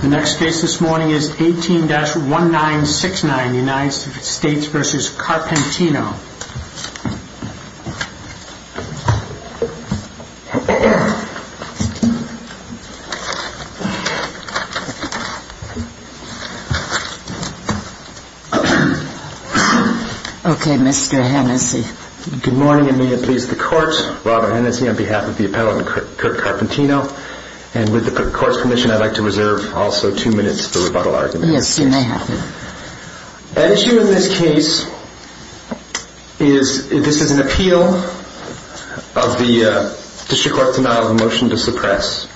The next case this morning is 18-1969 United States v. Carpentino. Okay, Mr. Hennessy. Good morning and may it please the courts. Robert Hennessy on behalf of the appellant Kirk Carpentino and with the court's permission I'd like to reserve also two minutes for rebuttal arguments. Yes, you may have. An issue in this case is this is an appeal of the district court's denial of a motion to suppress.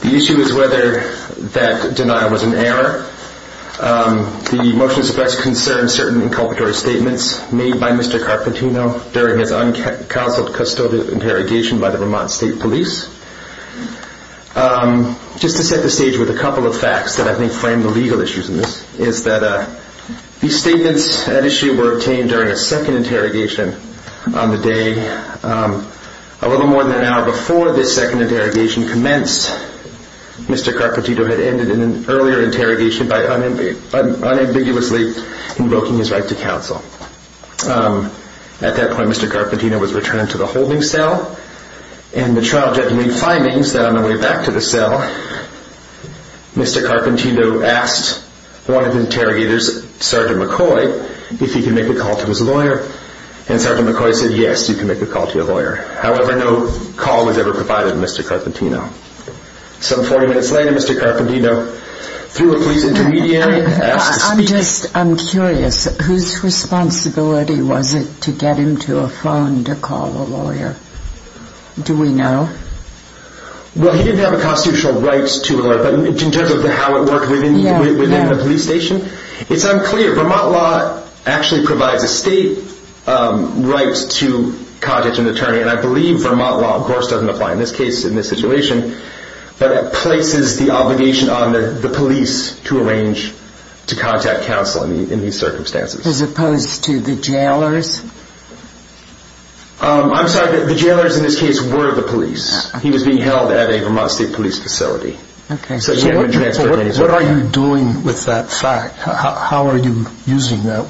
The issue is whether that denial was an error. The motion to suppress concerns certain inculpatory statements made by Mr. Carpentino during his uncounseled custodial interrogation by the Vermont State Police. Just to set the stage with a couple of facts that I think frame the legal issues in this is that these statements at issue were obtained during a second interrogation on the day a little more than an hour before this second interrogation commenced. Mr. Carpentino had ended an earlier interrogation by unambiguously invoking his right to counsel. At that point Mr. Carpentino was returned to the holding cell and the trial judge made findings that on the way back to the cell Mr. Carpentino asked one of the interrogators, Sergeant McCoy, if he could make a call to his lawyer and Sergeant McCoy said yes, you can make a call to your lawyer. However, no call was ever provided to Mr. Carpentino. Some 40 minutes later Mr. Carpentino, through a police intermediary, asked to speak. Just, I'm curious, whose responsibility was it to get him to a phone to call a lawyer? Do we know? Well, he didn't have a constitutional right to a lawyer, but in terms of how it worked within the police station it's unclear. Vermont law actually provides a state right to contact an attorney and I believe Vermont law, of course, doesn't apply in this case, in this situation but it places the obligation on the police to arrange to contact counsel in these circumstances. As opposed to the jailers? I'm sorry, the jailers in this case were the police. He was being held at a Vermont State Police facility. So what are you doing with that fact? How are you using that?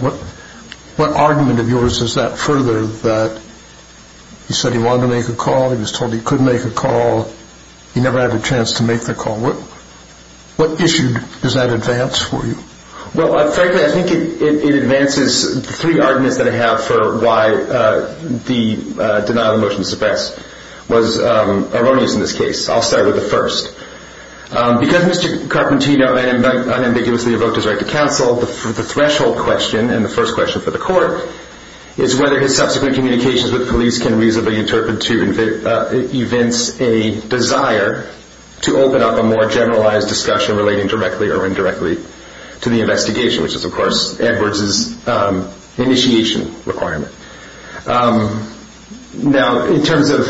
What argument of yours is that further, that he said he wanted to make a call, he was told he could make a call, he never had a chance to make the call? What issue does that advance for you? Well, frankly, I think it advances three arguments that I have for why the denial of motion to suppress was erroneous in this case. I'll start with the first. Because Mr. Carpentino unambiguously evoked his right to counsel, the threshold question and the first question for the court is whether his subsequent communications with police can reasonably interpret to events a desire to open up a more generalized discussion relating directly or indirectly to the investigation, which is of course Edwards' initiation requirement. Now, in terms of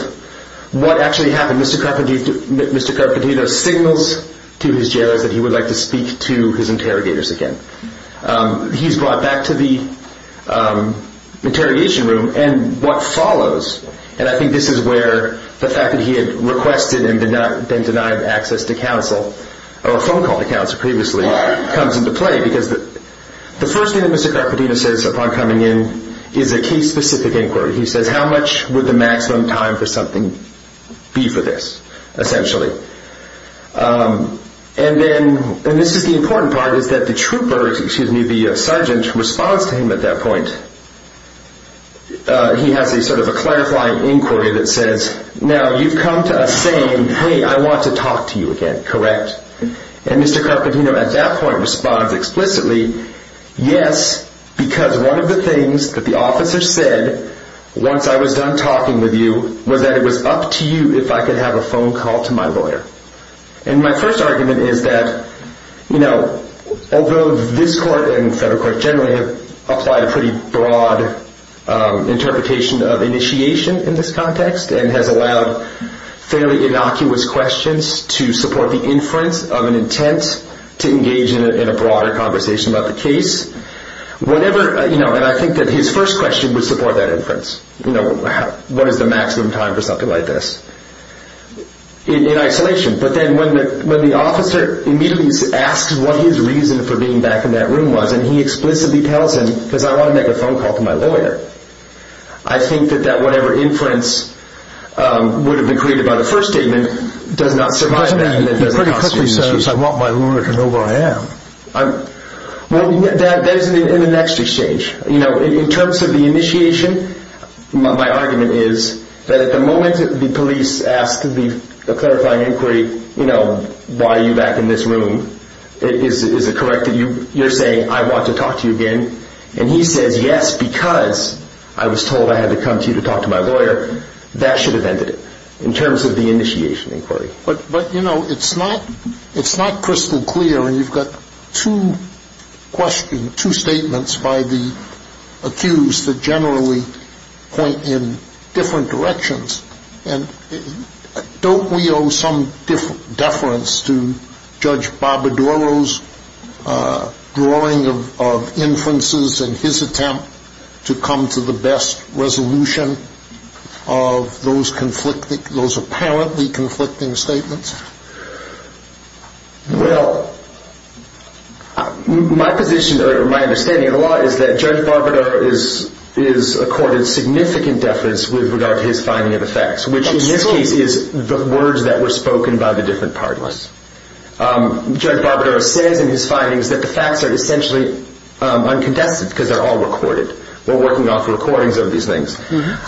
what actually happened, Mr. Carpentino signals to his jailers that he would like to speak to his interrogators again. He's brought back to the interrogation room and what follows, and I think this is where the fact that he had requested and been denied access to counsel, or a phone call to counsel previously, comes into play. Because the first thing that Mr. Carpentino says upon coming in is a case-specific inquiry. He says, how much would the maximum time for something be for this, essentially? And then, and this is the important part, is that the trooper, excuse me, the sergeant responds to him at that point. He has a sort of a clarifying inquiry that says, now you've come to us saying, hey, I want to talk to you again, correct? And Mr. Carpentino at that point responds explicitly, yes, because one of the things that the officer said once I was done talking with you was that it was up to you if I could have a phone call to my lawyer. And my first argument is that, you know, although this court and the federal court generally have applied a pretty broad interpretation of initiation in this context and has allowed fairly innocuous questions to support the inference of an intent to engage in a broader conversation about the case, whatever, you know, and I think that his first question would support that inference. You know, what is the maximum time for something like this? In isolation. But then when the officer immediately asks what his reason for being back in that room was and he explicitly tells him, because I want to make a phone call to my lawyer, I think that that whatever inference would have been created by the first statement does not survive that. It pretty quickly says, I want my lawyer to know who I am. Well, that is in the next exchange. You know, in terms of the initiation, my argument is that at the moment the police ask the clarifying inquiry, you know, why are you back in this room, is it correct that you're saying, I want to talk to you again, and he says yes because I was told I had to come to you to talk to my lawyer, that should have ended it in terms of the initiation inquiry. But, you know, it's not crystal clear, and you've got two questions, and two statements by the accused that generally point in different directions. And don't we owe some deference to Judge Barbadoro's drawing of inferences and his attempt to come to the best resolution of those apparently conflicting statements? Well, my position or my understanding of the law is that Judge Barbadoro is accorded significant deference with regard to his finding of the facts, which in this case is the words that were spoken by the different partners. Judge Barbadoro says in his findings that the facts are essentially uncontested because they're all recorded. We're working off recordings of these things.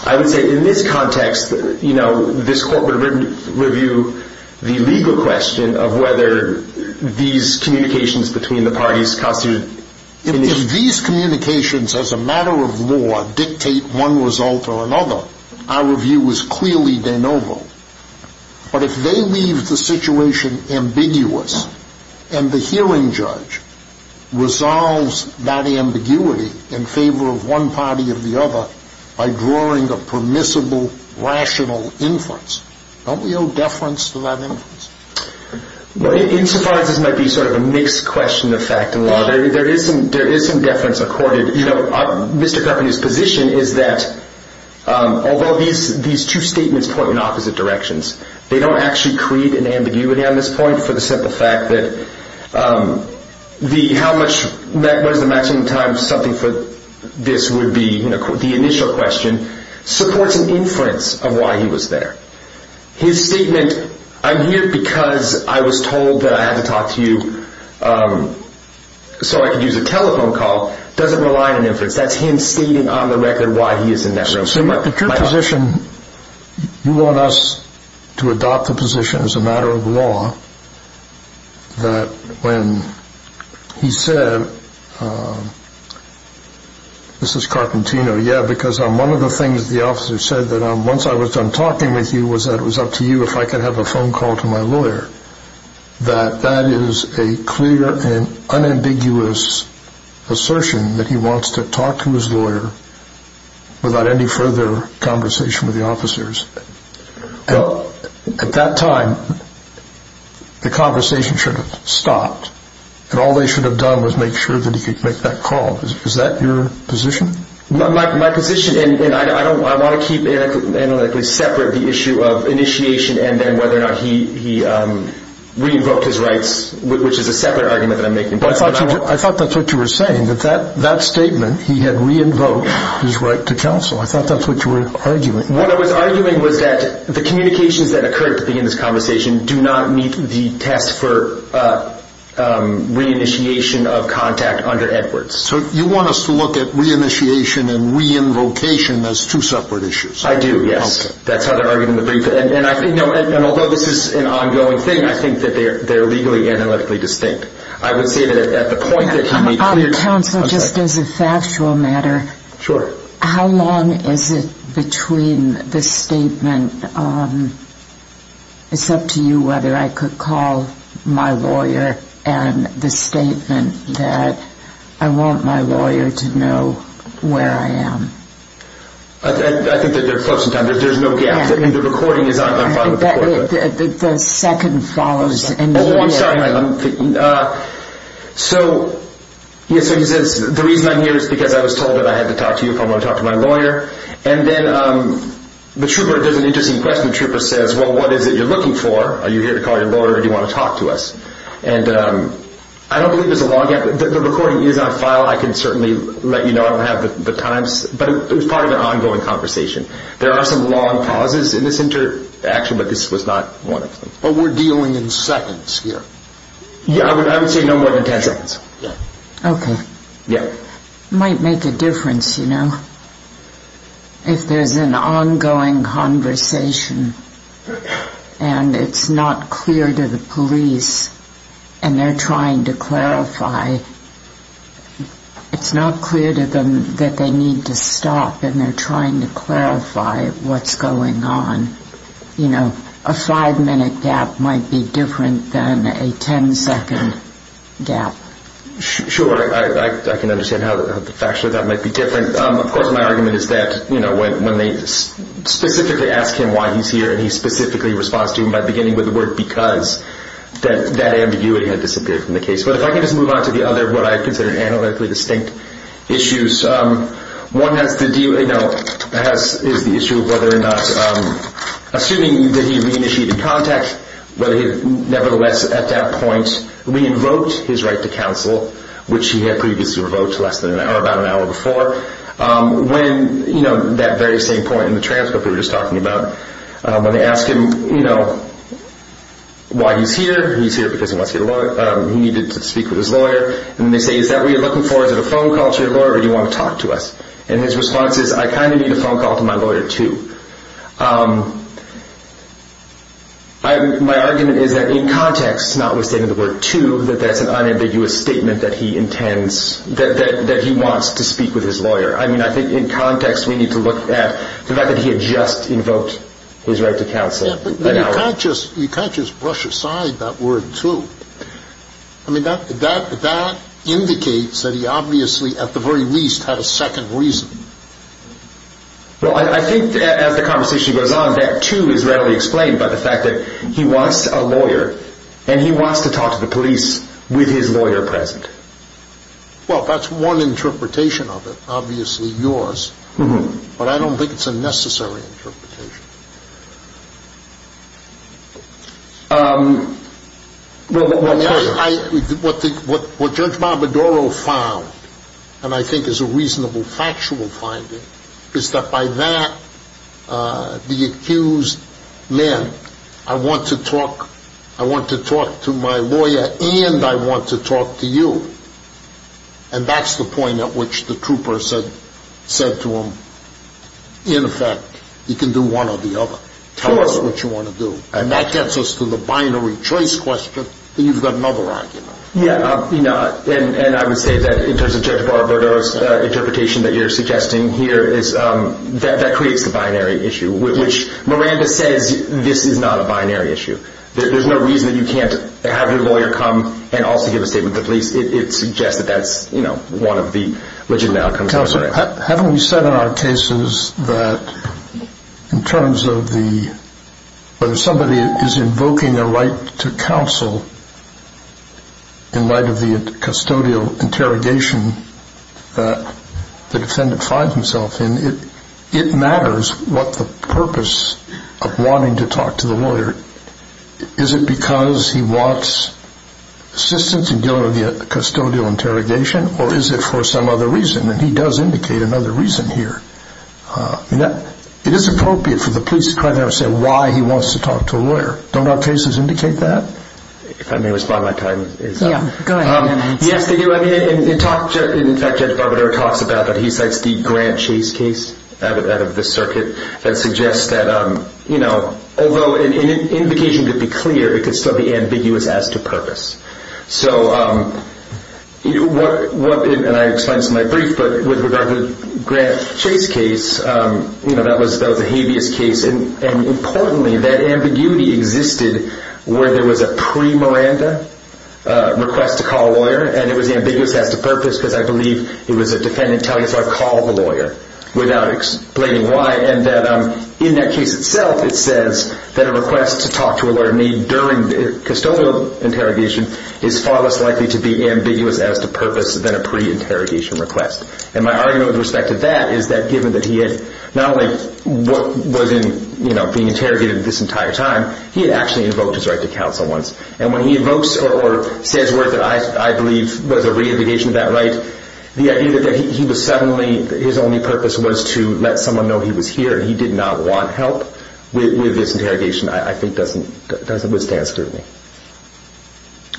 I would say in this context, you know, this court would review the legal question of whether these communications between the parties constitute initiation. If these communications as a matter of law dictate one result or another, our review is clearly de novo. But if they leave the situation ambiguous and the hearing judge resolves that ambiguity in favor of one party or the other by drawing a permissible, rational inference, don't we owe deference to that inference? Well, insofar as this might be sort of a mixed question of fact and law, there is some deference accorded. You know, Mr. Carpenter's position is that although these two statements point in opposite directions, they don't actually create an ambiguity on this point for the simple fact that how much was the maximum time something for this would be, you know, the initial question, supports an inference of why he was there. His statement, I'm here because I was told that I had to talk to you so I could use a telephone call, doesn't rely on an inference. That's him stating on the record why he is in that room. But your position, you want us to adopt the position as a matter of law that when he said, this is Carpentino, yeah, because one of the things the officer said that once I was done talking with you was that it was up to you if I could have a phone call to my lawyer, that that is a clear and unambiguous assertion that he wants to talk to his lawyer without any further conversation with the officers. At that time, the conversation should have stopped and all they should have done was make sure that he could make that call. Is that your position? My position, and I want to keep analytically separate the issue of initiation and then whether or not he re-invoked his rights, which is a separate argument that I'm making. I thought that's what you were saying, that that statement, he had re-invoked his right to counsel. I thought that's what you were arguing. What I was arguing was that the communications that occurred at the beginning of this conversation do not meet the test for re-initiation of contact under Edwards. So you want us to look at re-initiation and re-invocation as two separate issues. I do, yes. That's how they're arguing the brief. And although this is an ongoing thing, I think that they're legally analytically distinct. Counsel, just as a factual matter, how long is it between the statement, it's up to you whether I could call my lawyer, and the statement that I want my lawyer to know where I am? I think that they're close in time. There's no gap. The recording is on. The second follows immediately. So he says, the reason I'm here is because I was told that I had to talk to you if I want to talk to my lawyer. And then the trooper does an interesting question. The trooper says, well, what is it you're looking for? Are you here to call your lawyer or do you want to talk to us? And I don't believe there's a long gap. The recording is on file. I can certainly let you know. I don't have the times. But it was part of an ongoing conversation. There are some long pauses in this interaction, but this was not one of them. But we're dealing in seconds here. Yeah, I would say no more than ten seconds. Okay. Yeah. It might make a difference, you know, if there's an ongoing conversation and it's not clear to the police and they're trying to clarify, it's not clear to them that they need to stop and they're trying to clarify what's going on. A five-minute gap might be different than a ten-second gap. Sure. I can understand how factually that might be different. Of course, my argument is that when they specifically ask him why he's here and he specifically responds to him by beginning with the word because, that ambiguity had disappeared from the case. But if I can just move on to the other, what I consider analytically distinct issues. One is the issue of whether or not, assuming that he re-initiated contact, but nevertheless at that point re-invoked his right to counsel, which he had previously revoked less than an hour, about an hour before, when, you know, that very same point in the transcript we were just talking about, when they ask him, you know, why he's here, he's here because he wants to get a lawyer, he needed to speak with his lawyer. And they say, is that what you're looking for? Is it a phone call to your lawyer or do you want to talk to us? And his response is, I kind of need a phone call to my lawyer, too. My argument is that in context, not with stating the word, too, that that's an unambiguous statement that he intends, that he wants to speak with his lawyer. I mean, I think in context we need to look at the fact that he had just invoked his right to counsel. Yeah, but you can't just brush aside that word, too. I mean, that indicates that he obviously, at the very least, had a second reason. Well, I think as the conversation goes on, that, too, is readily explained by the fact that he wants a lawyer and he wants to talk to the police with his lawyer present. Well, that's one interpretation of it, obviously yours, but I don't think it's a necessary interpretation. Well, what Judge Barbadaro found, and I think is a reasonable factual finding, is that by that, the accused meant, I want to talk to my lawyer and I want to talk to you. And that's the point at which the trooper said to him, in effect, you can do one or the other. Tell us what you want to do. And that gets us to the binary choice question, and you've got another argument. Yeah, and I would say that in terms of Judge Barbadaro's interpretation that you're suggesting here, that creates the binary issue, which Miranda says this is not a binary issue. There's no reason that you can't have your lawyer come and also give a statement to the police. It suggests that that's one of the legitimate outcomes. Counsel, haven't we said in our cases that in terms of whether somebody is invoking a right to counsel in light of the custodial interrogation that the defendant finds himself in, it matters what the purpose of wanting to talk to the lawyer. Is it because he wants assistance in dealing with the custodial interrogation, or is it for some other reason? And he does indicate another reason here. It is appropriate for the police to try to understand why he wants to talk to a lawyer. Don't our cases indicate that? If I may respond, my time is up. Yeah, go ahead. Yes, they do. In fact, Judge Barbadaro talks about that. He cites the Grant Chase case out of the circuit that suggests that, you know, although an indication could be clear, it could still be ambiguous as to purpose. So, and I explained this in my brief, but with regard to the Grant Chase case, you know, that was a habeas case. And importantly, that ambiguity existed where there was a pre-Miranda request to call a lawyer, and it was ambiguous as to purpose because I believe it was a defendant telling us, I called the lawyer without explaining why. And in that case itself, it says that a request to talk to a lawyer during the custodial interrogation is far less likely to be ambiguous as to purpose than a pre-interrogation request. And my argument with respect to that is that given that he had not only been interrogated this entire time, he had actually invoked his right to counsel once. And when he invokes or says words that I believe was a re-indication of that right, the idea that he was suddenly, his only purpose was to let someone know he was here and he did not want help with this interrogation, I think, doesn't withstand scrutiny.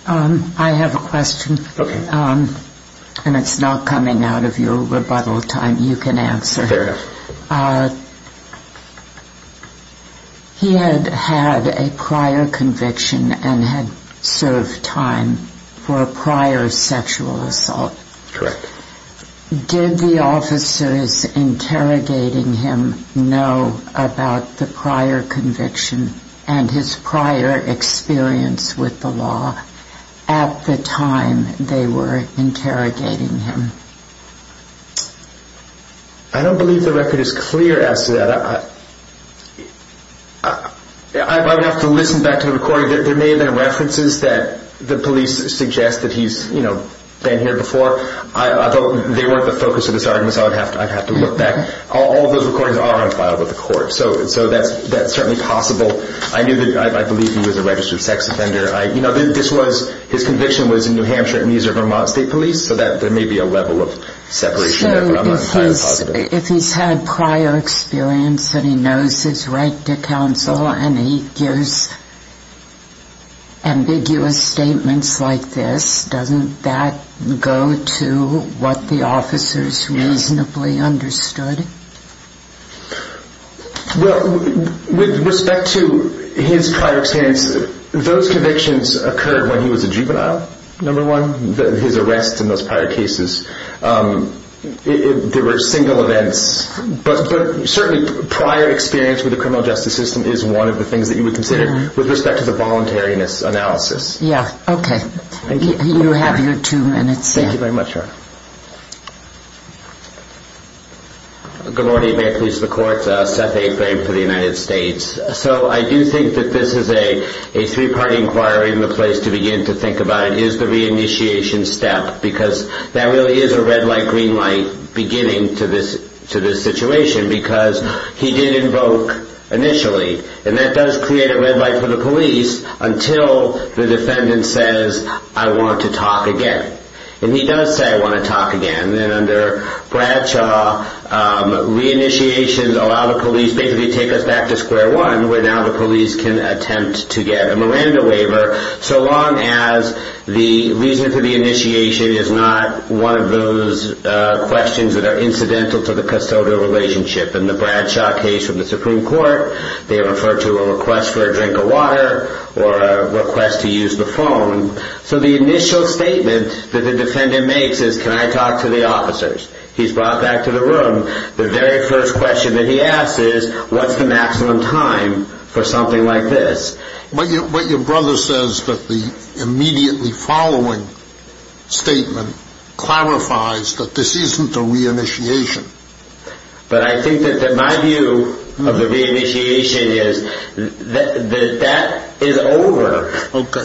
I have a question. Okay. And it's not coming out of your rebuttal time. You can answer. Fair enough. He had had a prior conviction and had served time for a prior sexual assault. Correct. Did the officers interrogating him know about the prior conviction and his prior experience with the law at the time they were interrogating him? I don't believe the record is clear as to that. I would have to listen back to the recording. There may have been references that the police suggest that he's been here before. They weren't the focus of this argument, so I'd have to look back. All of those recordings are on file with the court. So that's certainly possible. I believe he was a registered sex offender. His conviction was in New Hampshire and he's a Vermont State Police, so there may be a level of separation there, but I'm not entirely positive. If he's had prior experience and he knows his right to counsel and he gives ambiguous statements like this, doesn't that go to what the officers reasonably understood? Well, with respect to his prior experience, those convictions occurred when he was a juvenile, number one, his arrests in those prior cases. There were single events, but certainly prior experience with the criminal justice system is one of the things that you would consider with respect to the voluntariness analysis. Yeah, okay. Thank you. You have your two minutes. Thank you very much, Your Honor. Good morning. May it please the Court. Seth A. Frame for the United States. So I do think that this is a three-party inquiry and the place to begin to think about it is the reinitiation step because that really is a red light, green light beginning to this situation because he did invoke initially, and that does create a red light for the police until the defendant says, I want to talk again. And he does say, I want to talk again, and under Bradshaw, reinitiations allow the police basically to take us back to square one where now the police can attempt to get a Miranda waiver so long as the reason for the initiation is not one of those questions that are incidental to the custodial relationship. In the Bradshaw case from the Supreme Court, they refer to a request for a drink of water or a request to use the phone. So the initial statement that the defendant makes is, can I talk to the officers? He's brought back to the room. The very first question that he asks is, what's the maximum time for something like this? What your brother says that the immediately following statement clarifies that this isn't a reinitiation. But I think that my view of the reinitiation is that that is over.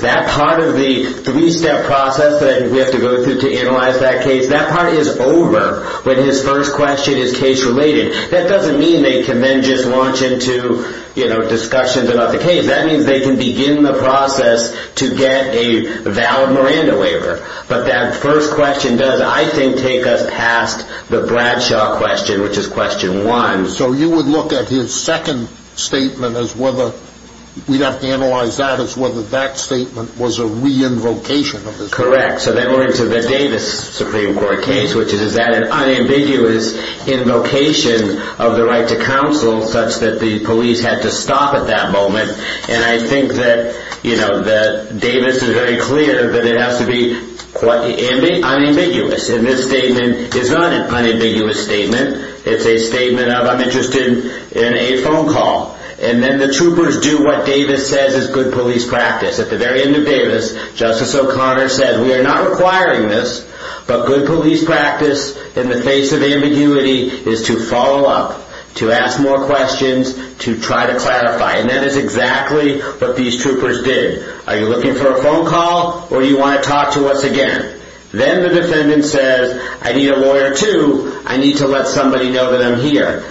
That part of the three-step process that we have to go through to analyze that case, that part is over when his first question is case-related. That doesn't mean they can then just launch into discussions about the case. That means they can begin the process to get a valid Miranda waiver. But that first question does, I think, take us past the Bradshaw question, which is question one. So you would look at his second statement as whether, we'd have to analyze that as whether that statement was a re-invocation of the Supreme Court. Correct. So then we're into the Davis Supreme Court case, which is that an unambiguous invocation of the right to counsel such that the police had to stop at that moment. And I think that Davis is very clear that it has to be unambiguous. And this statement is not an unambiguous statement. It's a statement of, I'm interested in a phone call. And then the troopers do what Davis says is good police practice. At the very end of Davis, Justice O'Connor said, we are not requiring this, but good police practice in the face of ambiguity is to follow up, to ask more questions, to try to clarify. And that is exactly what these troopers did. Are you looking for a phone call or do you want to talk to us again? Then the defendant says, I need a lawyer too. I need to let somebody know that I'm here.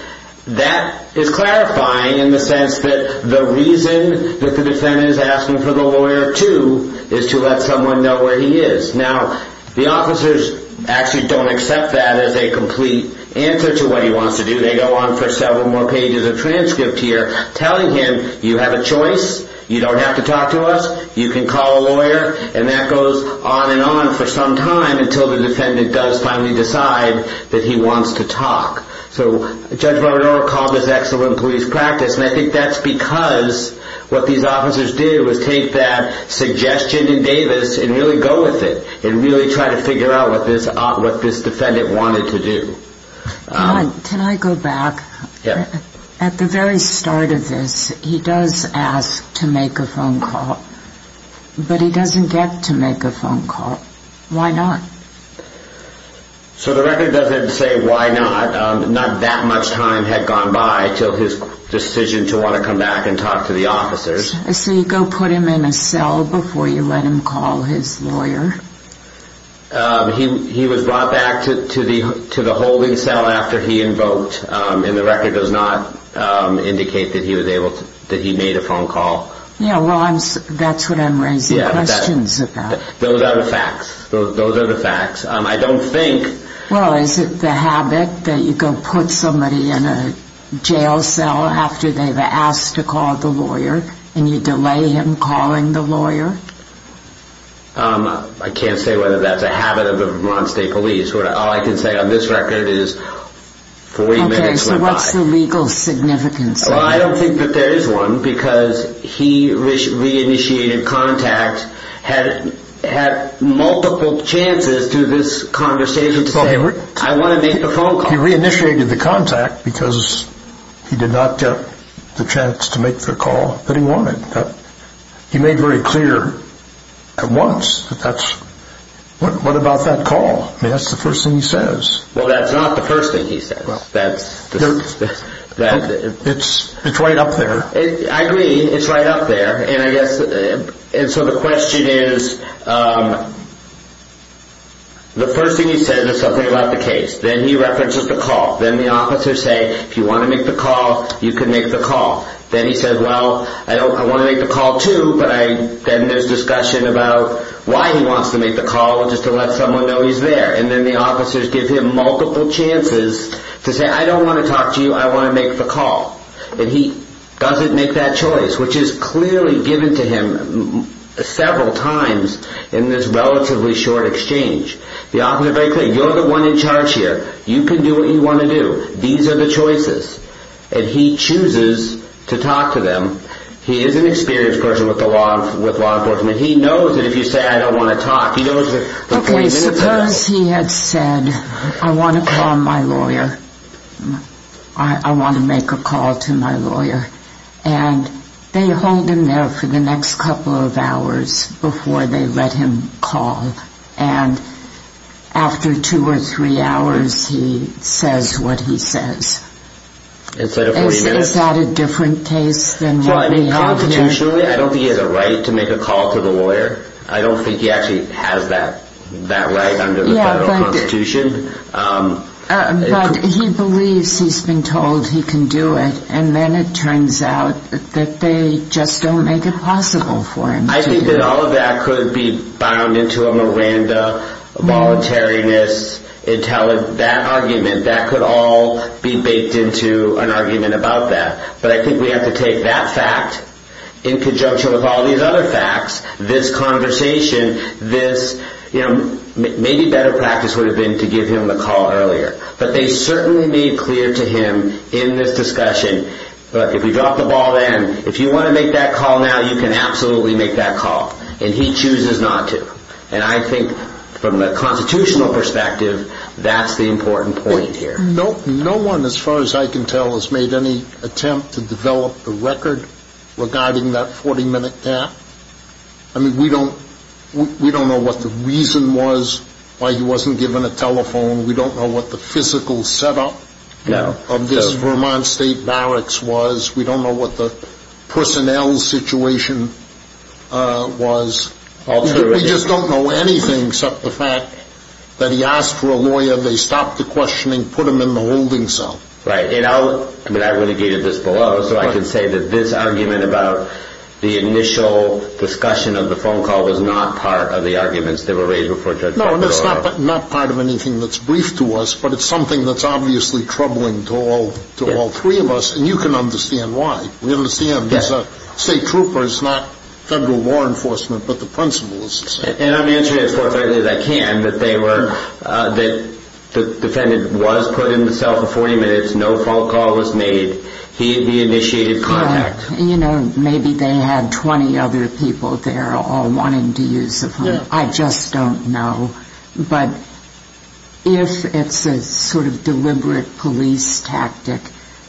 That is clarifying in the sense that the reason that the defendant is asking for the lawyer too is to let someone know where he is. Now, the officers actually don't accept that as a complete answer to what he wants to do. They go on for several more pages of transcript here telling him, you have a choice. You don't have to talk to us. You can call a lawyer. And that goes on and on for some time until the defendant does finally decide that he wants to talk. So Judge Barron-Orr called this excellent police practice. And I think that's because what these officers did was take that suggestion in Davis and really go with it and really try to figure out what this defendant wanted to do. Can I go back? Yeah. At the very start of this, he does ask to make a phone call. But he doesn't get to make a phone call. Why not? So the record doesn't say why not. Not that much time had gone by until his decision to want to come back and talk to the officers. So you go put him in a cell before you let him call his lawyer? He was brought back to the holding cell after he invoked. And the record does not indicate that he made a phone call. Yeah, well, that's what I'm raising questions about. Those are the facts. Those are the facts. I don't think. Well, is it the habit that you go put somebody in a jail cell after they've asked to call the lawyer and you delay him calling the lawyer? I can't say whether that's a habit of Vermont State Police. All I can say on this record is 40 minutes went by. Okay, so what's the legal significance of that? Well, I don't think that there is one because he re-initiated contact, had multiple chances to this conversation to say, I want to make a phone call. He re-initiated the contact because he did not get the chance to make the call that he wanted. He made very clear at once that that's, what about that call? That's the first thing he says. Well, that's not the first thing he says. It's right up there. I agree, it's right up there. And so the question is, the first thing he says is something about the case. Then he references the call. Then the officers say, if you want to make the call, you can make the call. Then he says, well, I want to make the call too, but then there's discussion about why he wants to make the call, just to let someone know he's there. And then the officers give him multiple chances to say, I don't want to talk to you, I want to make the call. And he doesn't make that choice, which is clearly given to him several times in this relatively short exchange. The officers are very clear, you're the one in charge here. You can do what you want to do. These are the choices. And he chooses to talk to them. He is an experienced person with law enforcement. He knows that if you say, I don't want to talk, he knows that the point is inevitable. Okay, suppose he had said, I want to call my lawyer. I want to make a call to my lawyer. And they hold him there for the next couple of hours before they let him call. And after two or three hours, he says what he says. Is that a different case than what we have here? Constitutionally, I don't think he has a right to make a call to the lawyer. I don't think he actually has that right under the federal constitution. But he believes he's been told he can do it, and then it turns out that they just don't make it possible for him to do it. I think that all of that could be bound into a Miranda, voluntariness, that argument. That could all be baked into an argument about that. But I think we have to take that fact in conjunction with all these other facts, this conversation, this, you know, maybe better practice would have been to give him the call earlier. But they certainly made clear to him in this discussion, if you drop the ball then, if you want to make that call now, now you can absolutely make that call. And he chooses not to. And I think from a constitutional perspective, that's the important point here. No one, as far as I can tell, has made any attempt to develop the record regarding that 40-minute gap. I mean, we don't know what the reason was why he wasn't given a telephone. We don't know what the physical setup of this Vermont state barracks was. We don't know what the personnel situation was. We just don't know anything except the fact that he asked for a lawyer. They stopped the questioning, put him in the holding cell. Right. And I'll, I mean, I've litigated this below, so I can say that this argument about the initial discussion of the phone call was not part of the arguments that were raised before Judge O'Connell. No, and it's not part of anything that's brief to us, but it's something that's obviously troubling to all three of us. And you can understand why. We understand that a state trooper is not federal law enforcement, but the principal is. And I'm answering as forthrightly as I can that they were, that the defendant was put in the cell for 40 minutes, no phone call was made. He initiated contact. You know, maybe they had 20 other people there all wanting to use the phone. I just don't know. But if it's a sort of deliberate police tactic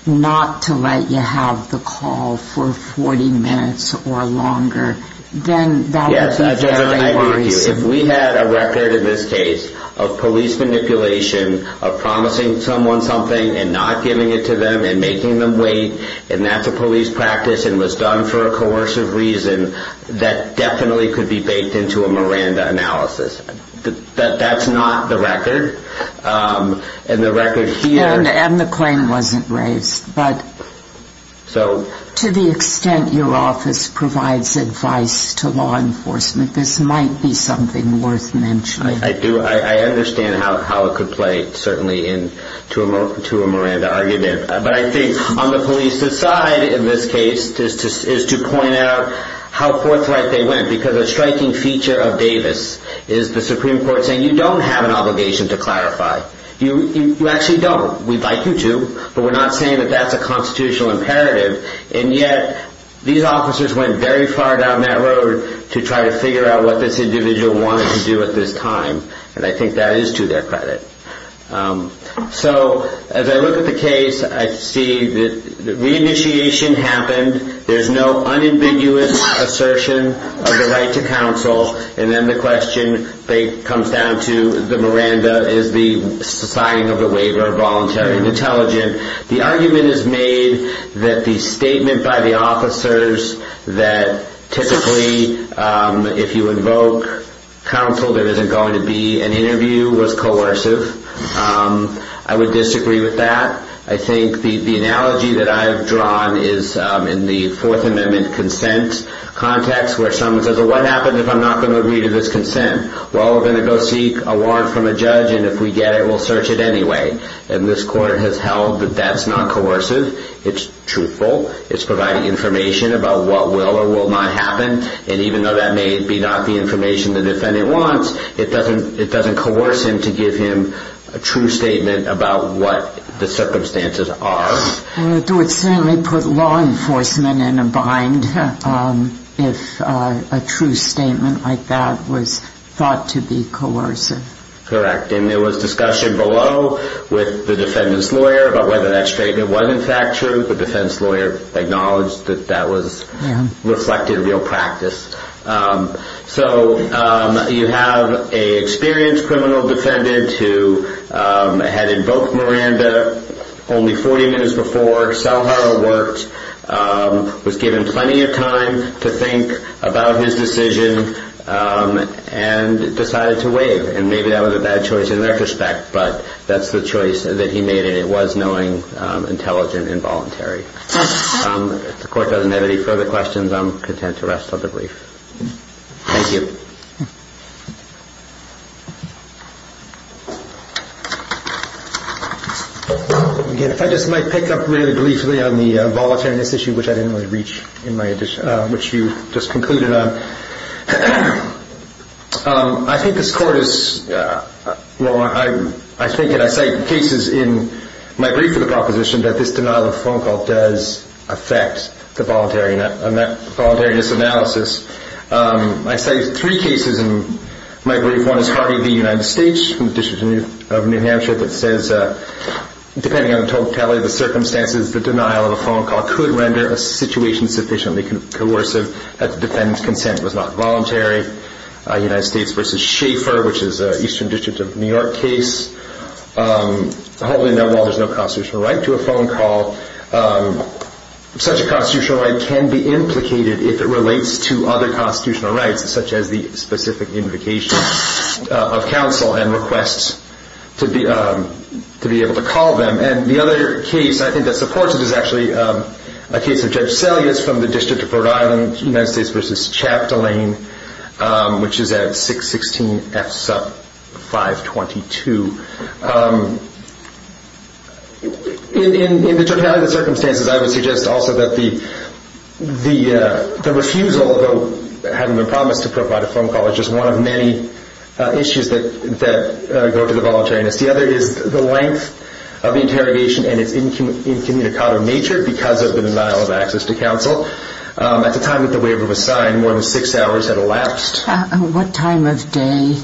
not to let you have the call for 40 minutes or longer, then that would be very worrisome. Yes, I'd argue. If we had a record in this case of police manipulation, of promising someone something and not giving it to them and making them wait, and that's a police practice and was done for a coercive reason, that definitely could be baked into a Miranda analysis. That's not the record. And the record here... And the claim wasn't raised. But to the extent your office provides advice to law enforcement, this might be something worth mentioning. I do. I understand how it could play certainly into a Miranda argument. But I think on the police's side in this case is to point out how forthright they went. Because a striking feature of Davis is the Supreme Court saying, you don't have an obligation to clarify. You actually don't. We'd like you to, but we're not saying that that's a constitutional imperative. And yet these officers went very far down that road to try to figure out what this individual wanted to do at this time. And I think that is to their credit. So as I look at the case, I see that reinitiation happened. There's no unambiguous assertion of the right to counsel. And then the question comes down to the Miranda is the signing of the waiver of voluntary intelligence. The argument is made that the statement by the officers that typically if you invoke counsel, there isn't going to be an interview was coercive. I would disagree with that. I think the analogy that I've drawn is in the Fourth Amendment consent context, where someone says, well, what happens if I'm not going to agree to this consent? Well, we're going to go seek a warrant from a judge, and if we get it, we'll search it anyway. And this court has held that that's not coercive. It's truthful. It's providing information about what will or will not happen. And even though that may be not the information the defendant wants, it doesn't coerce him to give him a true statement about what the circumstances are. It would certainly put law enforcement in a bind if a true statement like that was thought to be coercive. Correct. And there was discussion below with the defendant's lawyer about whether that statement was in fact true. The defense lawyer acknowledged that that was reflected in real practice. So you have an experienced criminal defendant who had invoked Miranda only 40 minutes before, saw how it worked, was given plenty of time to think about his decision, and decided to waive. And maybe that was a bad choice in retrospect, but that's the choice that he made, was knowing intelligent involuntary. If the court doesn't have any further questions, I'm content to rest on the brief. Thank you. If I just might pick up really briefly on the voluntariness issue, which I didn't really reach in my addition, which you just concluded on. I think this court is, well, I think and I cite cases in my brief for the proposition that this denial of a phone call does affect the voluntariness analysis. I cite three cases in my brief. One is Harvey v. United States from the District of New Hampshire that says, depending on the totality of the circumstances, the denial of a phone call could render a situation sufficiently coercive that the defendant's consent was not voluntary. United States v. Schaeffer, which is an Eastern District of New York case, holding that while there's no constitutional right to a phone call, such a constitutional right can be implicated if it relates to other constitutional rights, such as the specific invocation of counsel and requests to be able to call them. And the other case, I think, that supports it is actually a case of Judge Selyus from the District of Rhode Island, United States v. Chaptolane, which is at 616 F. Supp 522. In the totality of the circumstances, I would suggest also that the refusal, although it hadn't been promised to provide a phone call, is just one of many issues that go to the voluntariness. The other is the length of the interrogation and its incommunicado nature because of the denial of access to counsel. At the time that the waiver was signed, more than six hours had elapsed. What time of day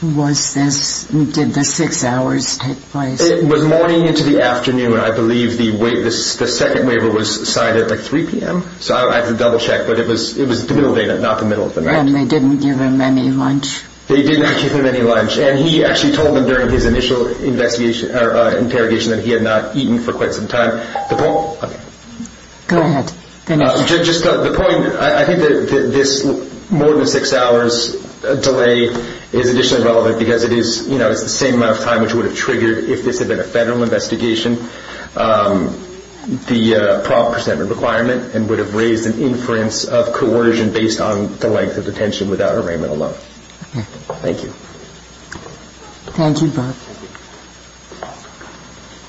was this? Did the six hours take place? It was morning into the afternoon. I believe the second waiver was signed at like 3 p.m. So I have to double-check, but it was the middle of the day, not the middle of the night. And they didn't give him any lunch? They did not give him any lunch. And he actually told them during his initial interrogation that he had not eaten for quite some time. Go ahead. Just the point, I think that this more than six hours delay is additionally relevant because it is the same amount of time which would have triggered, if this had been a federal investigation, the prompt presentment requirement and would have raised an inference of coercion based on the length of detention without arraignment alone. Thank you. Thank you.